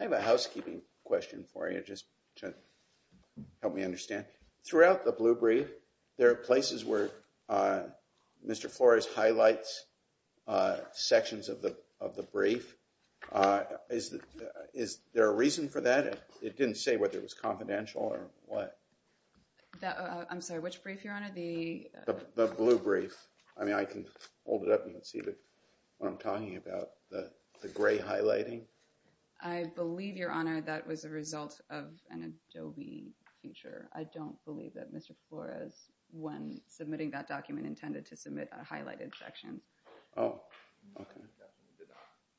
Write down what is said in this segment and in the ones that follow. I have a housekeeping question for you, just to help me understand. Throughout the Blue Brief, there are places where Mr. Flores highlights sections of the brief. Is there a reason for that? It didn't say whether it was confidential or what. I'm sorry, which brief, Your Honor? The Blue Brief. I mean, I can hold it up and you can see what I'm talking about, the gray highlighting. I believe, Your Honor, that was a result of an Adobe feature. I don't believe that Mr. Flores, when submitting that document, intended to submit a highlighted section. Oh, okay.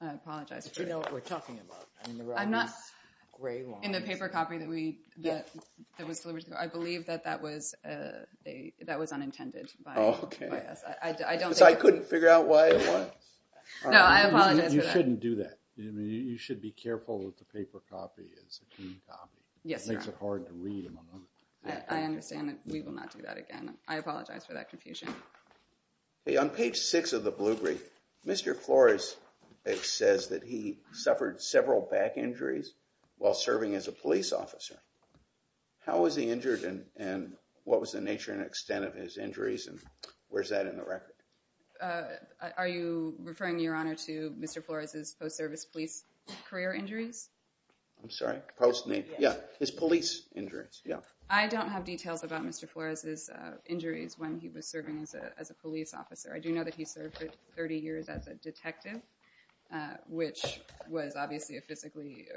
I apologize. But you know what we're talking about. I mean, there are these gray lines. In the paper copy that was delivered to the court, I believe that that was unintended Oh, okay. I don't think... So I couldn't figure out why it was? No, I apologize for that. You shouldn't do that. I mean, you should be careful that the paper copy is a key copy. Yes, Your Honor. It makes it hard to read, among other things. I understand. We will not do that again. I apologize for that confusion. Hey, on page six of the Blue Brief, Mr. Flores says that he suffered several back injuries while serving as a police officer. How was he injured, and what was the nature and extent of his injuries, and where's that in the record? Are you referring, Your Honor, to Mr. Flores' post-service police career injuries? I'm sorry? Post-service? Yeah. His police injuries. Yeah. I don't have details about Mr. Flores' injuries when he was serving as a police officer. I do know that he served 30 years as a detective, which was obviously a physically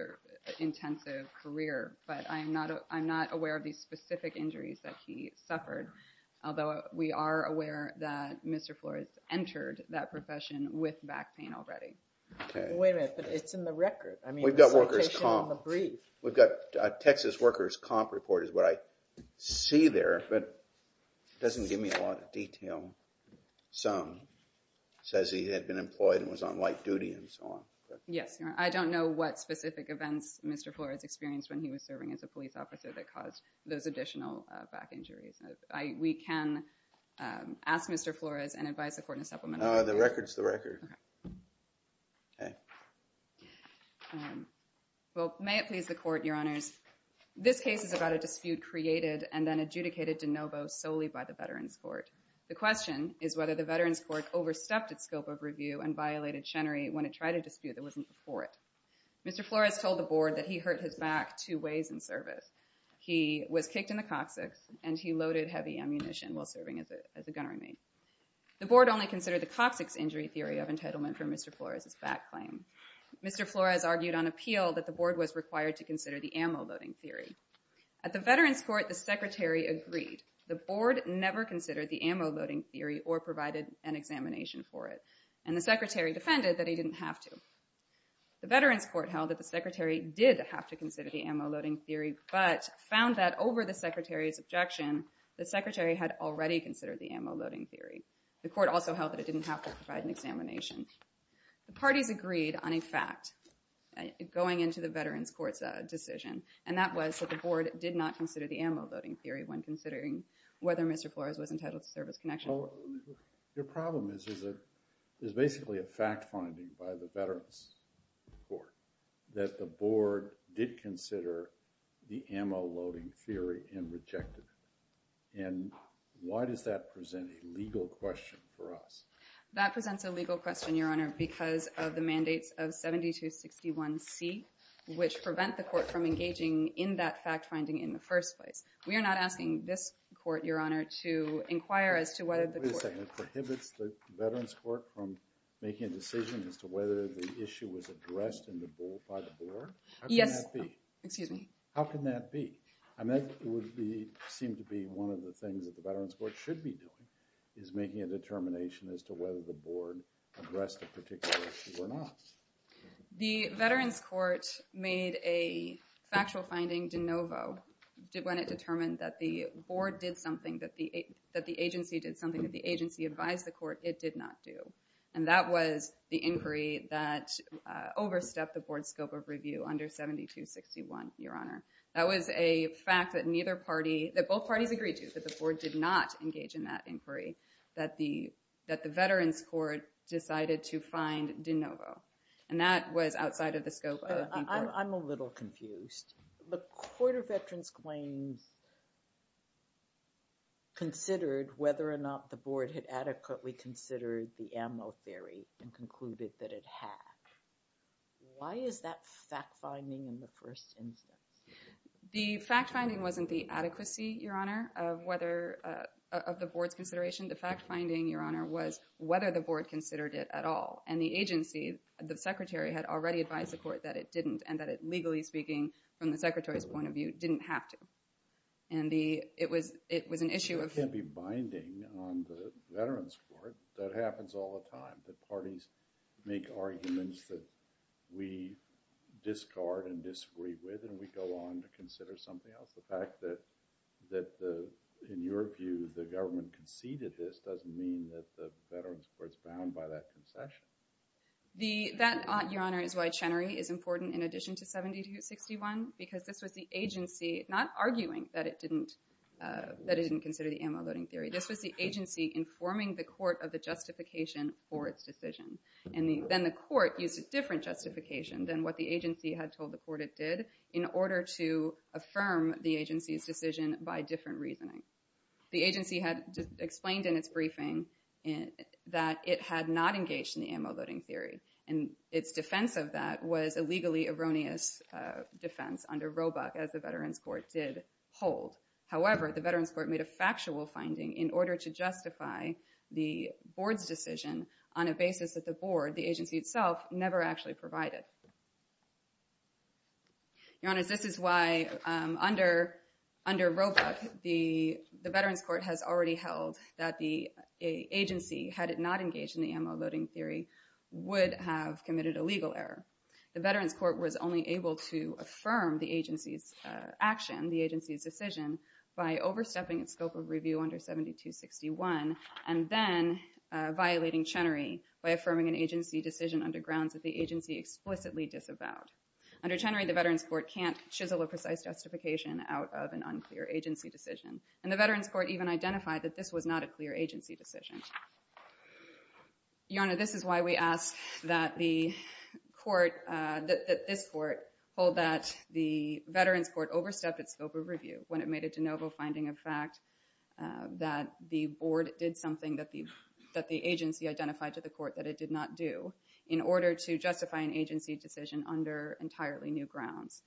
intensive career. But I'm not aware of the specific injuries that he suffered, although we are aware that Mr. Flores entered that profession with back pain already. Okay. Wait a minute. But it's in the record. I mean, the citation on the brief. We've got workers' comp. We've got a Texas workers' comp report is what I see there, but it doesn't give me a sum. It says he had been employed and was on light duty and so on. Yes, Your Honor. I don't know what specific events Mr. Flores experienced when he was serving as a police officer that caused those additional back injuries. We can ask Mr. Flores and advise the court in a supplemental way. No, the record's the record. Okay. Okay. Well, may it please the court, Your Honors. This case is about a dispute created and then adjudicated de novo solely by the Veterans Court. The question is whether the Veterans Court overstepped its scope of review and violated Chenery when it tried a dispute that wasn't before it. Mr. Flores told the board that he hurt his back two ways in service. He was kicked in the coccyx and he loaded heavy ammunition while serving as a gunnery mate. The board only considered the coccyx injury theory of entitlement for Mr. Flores' back claim. Mr. Flores argued on appeal that the board was required to consider the ammo loading theory. At the Veterans Court, the Secretary agreed. The board never considered the ammo loading theory or provided an examination for it. And the Secretary defended that he didn't have to. The Veterans Court held that the Secretary did have to consider the ammo loading theory but found that over the Secretary's objection, the Secretary had already considered the ammo loading theory. The court also held that it didn't have to provide an examination. The parties agreed on a fact going into the Veterans Court's decision, and that was that the board did not consider the ammo loading theory when considering whether Mr. Flores was entitled to serve as connection. Your problem is basically a fact finding by the Veterans Court that the board did consider the ammo loading theory and rejected it. And why does that present a legal question for us? That presents a legal question, Your Honor, because of the mandates of 7261C, which prevent the court from engaging in that fact finding in the first place. We are not asking this court, Your Honor, to inquire as to whether the court Wait a second. It prohibits the Veterans Court from making a decision as to whether the issue was addressed by the board? Yes. How can that be? Excuse me. How can that be? I mean, that would seem to be one of the things that the Veterans Court should be doing, is making a determination as to whether the board addressed a particular issue or not. The Veterans Court made a factual finding de novo when it determined that the board did something that the agency did something that the agency advised the court it did not do. And that was the inquiry that overstepped the board's scope of review under 7261, Your Honor. That was a fact that both parties agreed to, that the board did not engage in that inquiry, that the Veterans Court decided to find de novo. And that was outside of the scope of the board. I'm a little confused. The Court of Veterans Claims considered whether or not the board had adequately considered the ammo theory and concluded that it had. Why is that fact finding in the first instance? The fact finding wasn't the adequacy, Your Honor, of the board's consideration. The fact finding, Your Honor, was whether the board considered it at all. And the agency, the secretary, had already advised the court that it didn't and that it, legally speaking, from the secretary's point of view, didn't have to. And it was an issue of- You can't be binding on the Veterans Court. That happens all the time. The parties make arguments that we discard and disagree with, and we go on to consider something else. The fact that, in your view, the government conceded this doesn't mean that the Veterans Court is bound by that concession. That, Your Honor, is why Chenery is important in addition to 7261, because this was the agency not arguing that it didn't consider the ammo-loading theory. This was the agency informing the court of the justification for its decision. And then the court used a different justification than what the agency had told the court it did in order to affirm the agency's decision by different reasoning. The agency had explained in its briefing that it had not engaged in the ammo-loading theory, and its defense of that was a legally erroneous defense under Roebuck, as the Veterans Court did hold. However, the Veterans Court made a factual finding in order to justify the board's decision on a basis that the board, the agency itself, never actually provided. Your Honors, this is why under Roebuck, the Veterans Court has already held that the agency, had it not engaged in the ammo-loading theory, would have committed a legal error. The Veterans Court was only able to affirm the agency's action, the agency's decision, by overstepping its scope of review under 7261, and then violating Chenery by affirming an agency decision under grounds that the agency explicitly disavowed. Under Chenery, the Veterans Court can't chisel a precise justification out of an unclear agency decision. And the Veterans Court even identified that this was not a clear agency decision. Your Honor, this is why we ask that the court, that this court, hold that the Veterans Court overstepped its scope of review when it made a de novo finding of fact that the board did something that the agency identified to the court that it did not do in order to justify an agency decision under entirely new grounds.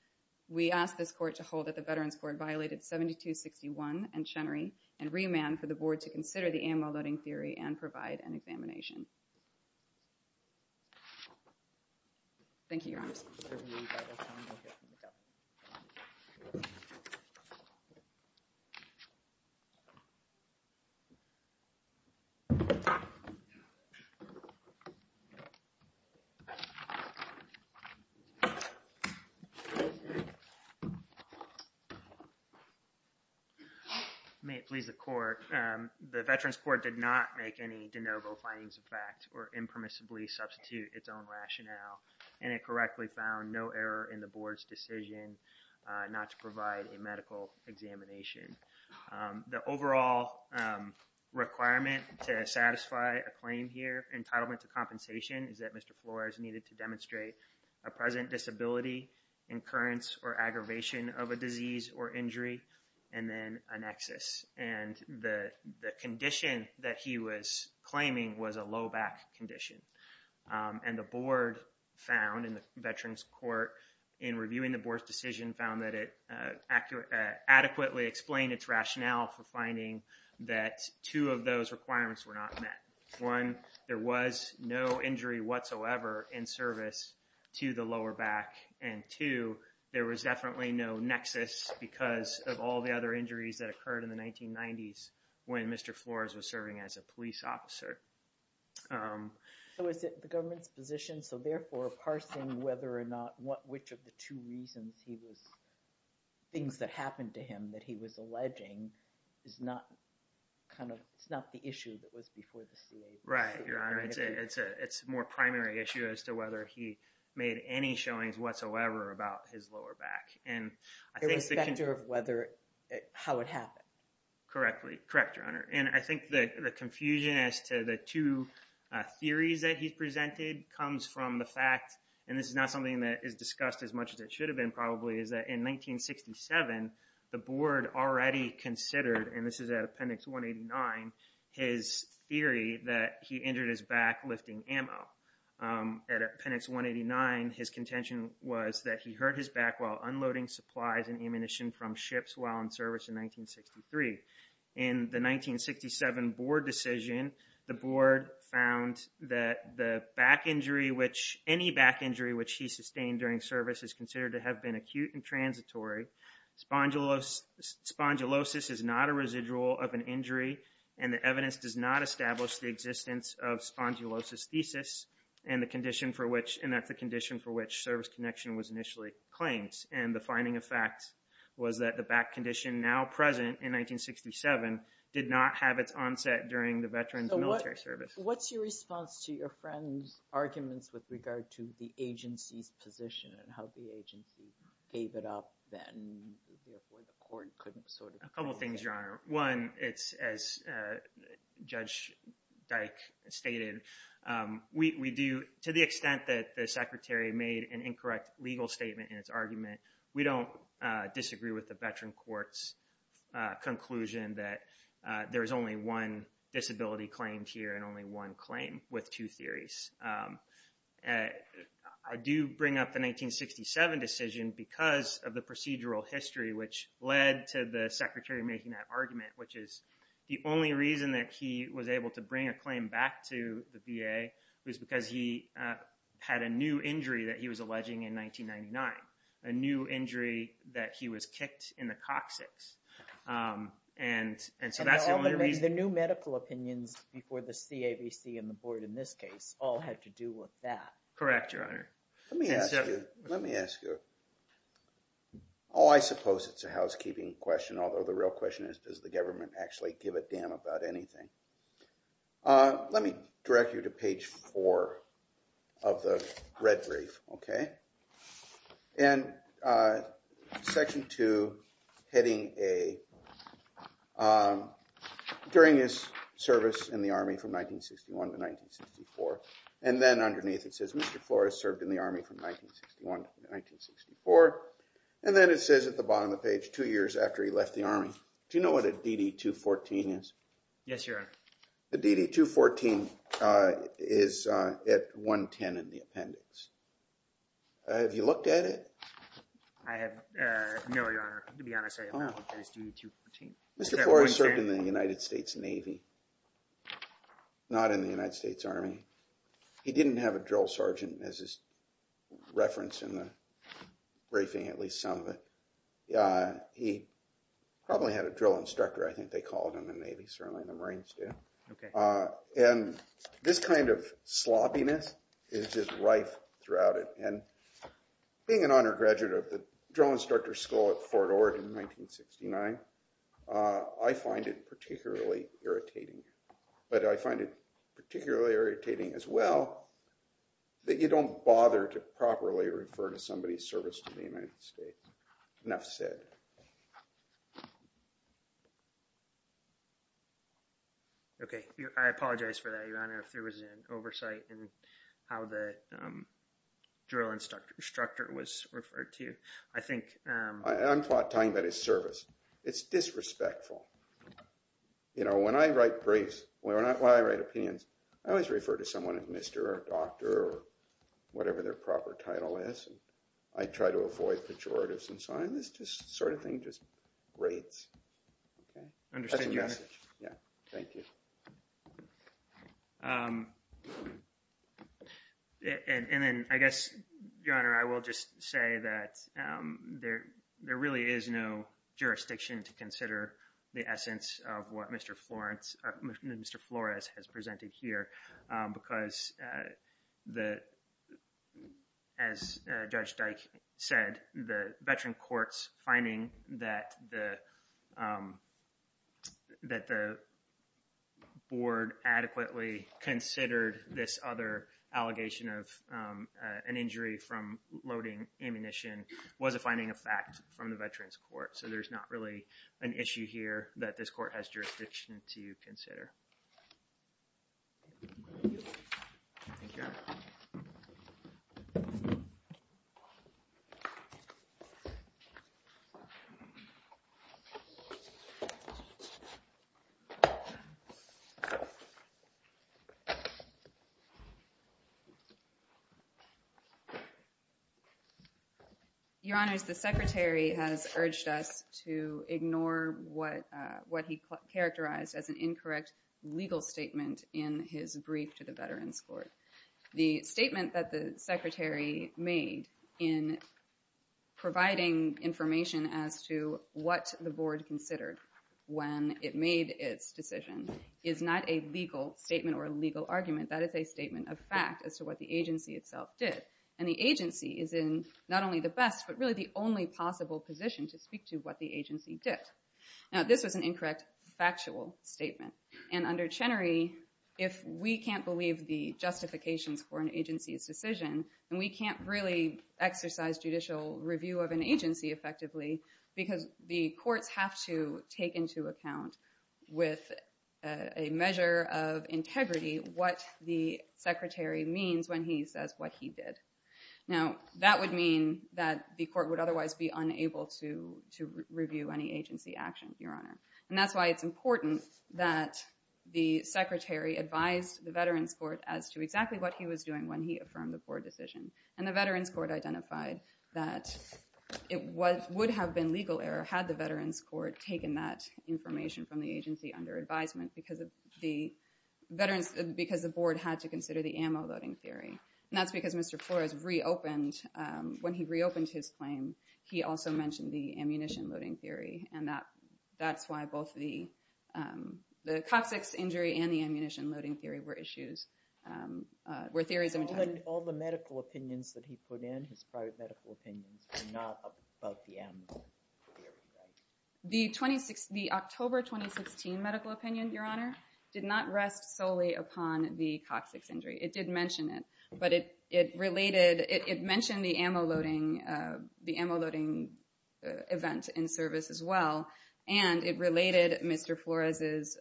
We ask this court to hold that the Veterans Court violated 7261 and Chenery, and remand for the board to consider the ammo-loading theory and provide an examination. May it please the court. The Veterans Court did not make any de novo findings of fact or impermissibly substitute its own rationale. And it correctly found no error in the board's decision not to provide a medical examination. The overall requirement to satisfy a claim here, entitlement to compensation, is that Mr. Flores needed to demonstrate a present disability, incurrence or aggravation of a disease or injury, and then an excess. And the condition that he was claiming was a low back condition. And the board found in the Veterans Court in reviewing the board's decision found that it adequately explained its rationale for finding that two of those requirements were not met. One, there was no injury whatsoever in service to the lower back. And two, there was definitely no nexus because of all the other injuries that occurred in the 1990s when Mr. Flores was serving as a police officer. So is it the government's position? So therefore, parsing whether or not which of the two reasons he was, things that happened to him that he was alleging is not kind of, it's not the issue that was before the CA. Right, Your Honor. It's a more primary issue as to whether he made any showings whatsoever about his lower back. Irrespective of whether, how it happened. Correctly. Correct, Your Honor. And I think the confusion as to the two theories that he presented comes from the fact, and this is not something that is discussed as much as it should have been probably, is that in 1967, the board already considered, and this is at Appendix 189, his theory that he injured his back lifting ammo. At Appendix 189, his contention was that he hurt his back while unloading supplies and ammunition from ships while in service in 1963. In the 1967 board decision, the board found that the back injury, any back injury which he sustained during service is considered to have been acute and transitory. Spondylosis is not a residual of an injury, and the evidence does not establish the existence of spondylosis thesis, and that's the condition for which service connection was initially claimed. And the finding of fact was that the back condition now present in 1967 did not have its onset during the veteran's military service. So what's your response to your friend's arguments with regard to the agency's position and how the agency gave it up then, and therefore the court couldn't sort of... A couple things, Your Honor. One, it's as Judge Dyke stated, to the extent that the Secretary made an incorrect legal statement in its argument, we don't disagree with the veteran court's conclusion that there is only one disability claimed here and only one claim with two theories. I do bring up the 1967 decision because of the procedural history which led to the Secretary making that argument, which is the only reason that he was able to bring a claim back to the VA was because he had a new injury that he was alleging in 1999, a new injury that he was kicked in the coccyx. And so that's the only reason... And all the new medical opinions before the CAVC and the board in this case all had to do with that. Correct, Your Honor. Let me ask you... Oh, I suppose it's a housekeeping question, although the real question is, does the government actually give a damn about anything? Let me direct you to page 4 of the red brief, okay? And section 2, heading A, during his service in the Army from 1961 to 1964, and then underneath it says, Mr. Flores served in the Army from 1961 to 1964, and then it says at the bottom of the page, two years after he left the Army. Do you know what a DD-214 is? Yes, Your Honor. A DD-214 is at 110 in the appendix. Have you looked at it? No, Your Honor. To be honest, I don't know what that is, DD-214. Mr. Flores served in the United States Navy, not in the United States Army. He didn't have a drill sergeant, as is referenced in the briefing, at least some of it. He probably had a drill instructor, I think they called him in the Navy, certainly the Marines do. And this kind of sloppiness is just rife throughout it, and being an undergraduate of the Drill Instructor School at Fort Ord in 1969, I find it particularly irritating. But I find it particularly irritating as well that you don't bother to properly refer to somebody's service to the United States. Enough said. Okay, I apologize for that, Your Honor, if there was an oversight in how the drill instructor was referred to. I think... I'm talking about his service. It's disrespectful. You know, when I write briefs, when I write opinions, I always refer to someone as Mr. or Doctor or whatever their proper title is. I try to avoid pejoratives and signs. This sort of thing just rates. That's a message. Yeah, thank you. And then, I guess, Your Honor, I will just say that there really is no jurisdiction to consider the essence of what Mr. Flores has presented here because, as Judge Dyke said, the veteran court's finding that the board adequately considered this other allegation of an injury from loading ammunition was a finding of fact from the veterans court. So there's not really an issue here that this court has jurisdiction to consider. Thank you, Your Honor. Your Honor, the Secretary has urged us to ignore what he characterized as an incorrect legal statement in his brief to the veterans court. The statement that the Secretary made in providing information as to what the board considered when it made its decision is not a valid statement. It's not a legal statement or a legal argument. That is a statement of fact as to what the agency itself did. And the agency is in not only the best, but really the only possible position to speak to what the agency did. Now, this was an incorrect factual statement. And under Chenery, if we can't believe the justifications for an agency's decision, then we can't really exercise judicial review of an agency effectively because the courts have to take into account with a measure of integrity what the Secretary means when he says what he did. Now, that would mean that the court would otherwise be unable to review any agency action, Your Honor. And that's why it's important that the Secretary advised the veterans court as to exactly what he was doing when he affirmed the board decision. And the veterans court identified that it would have been legal error had the veterans court taken that information from the agency under advisement because the board had to consider the ammo-loading theory. And that's because Mr. Flores reopened, when he reopened his claim, he also mentioned the ammunition-loading theory. And that's why both the coccyx injury and the ammunition-loading theory were issues, were theories. All the medical opinions that he put in, his private medical opinions, were not about the ammo-loading theory then? The October 2016 medical opinion, Your Honor, did not rest solely upon the coccyx injury. It did mention it, but it related, it mentioned the ammo-loading, the ammo-loading event in service as well, and it related Mr. Flores'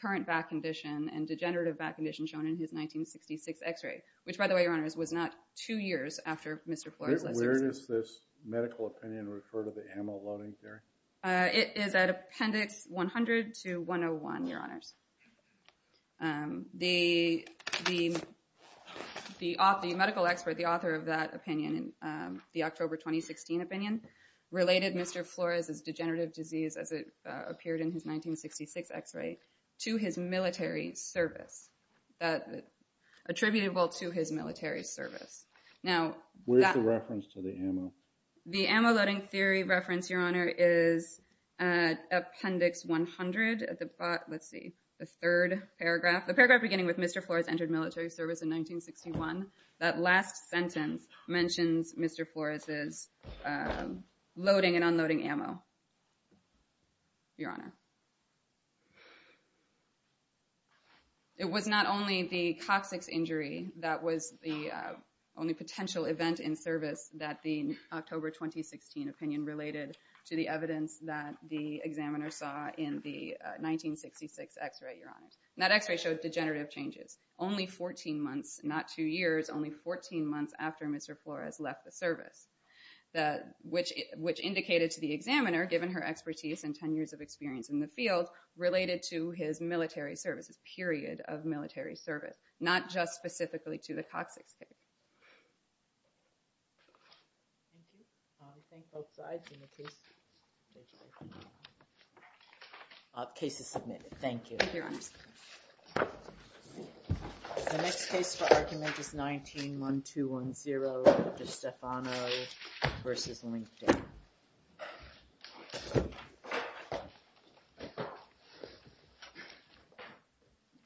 current back condition and degenerative back condition shown in his 1966 x-ray, which, by the way, Your Honors, was not two years after Mr. Flores... Where does this medical opinion refer to the ammo-loading theory? It is at Appendix 100 to 101, Your Honors. The medical expert, the author of that opinion, the October 2016 opinion, related Mr. Flores' degenerative disease as it appeared in his 1966 x-ray to his military service, attributable to his military service. Now... Where's the reference to the ammo? The ammo-loading theory reference, Your Honor, is at Appendix 100 at the bot... Let's see, the third paragraph. The paragraph beginning with Mr. Flores entered military service in 1961. That last sentence mentions Mr. Flores' loading and unloading ammo, Your Honor. It was not only the coccyx injury that was the only potential event in service that the October 2016 opinion related to the evidence that the examiner saw in the 1966 x-ray, Your Honors. And that x-ray showed degenerative changes. Only 14 months, not two years, only 14 months after Mr. Flores left the service, which indicated to the examiner, given her expertise and 10 years of experience in the field, related to his military services, period of military service, not just specifically to the coccyx injury. Thank you. I'll rethink both sides in the case. Thank you. Thank you, Your Honor. The next case for argument is 19-1210, Dr. Stefano v. LinkedIn.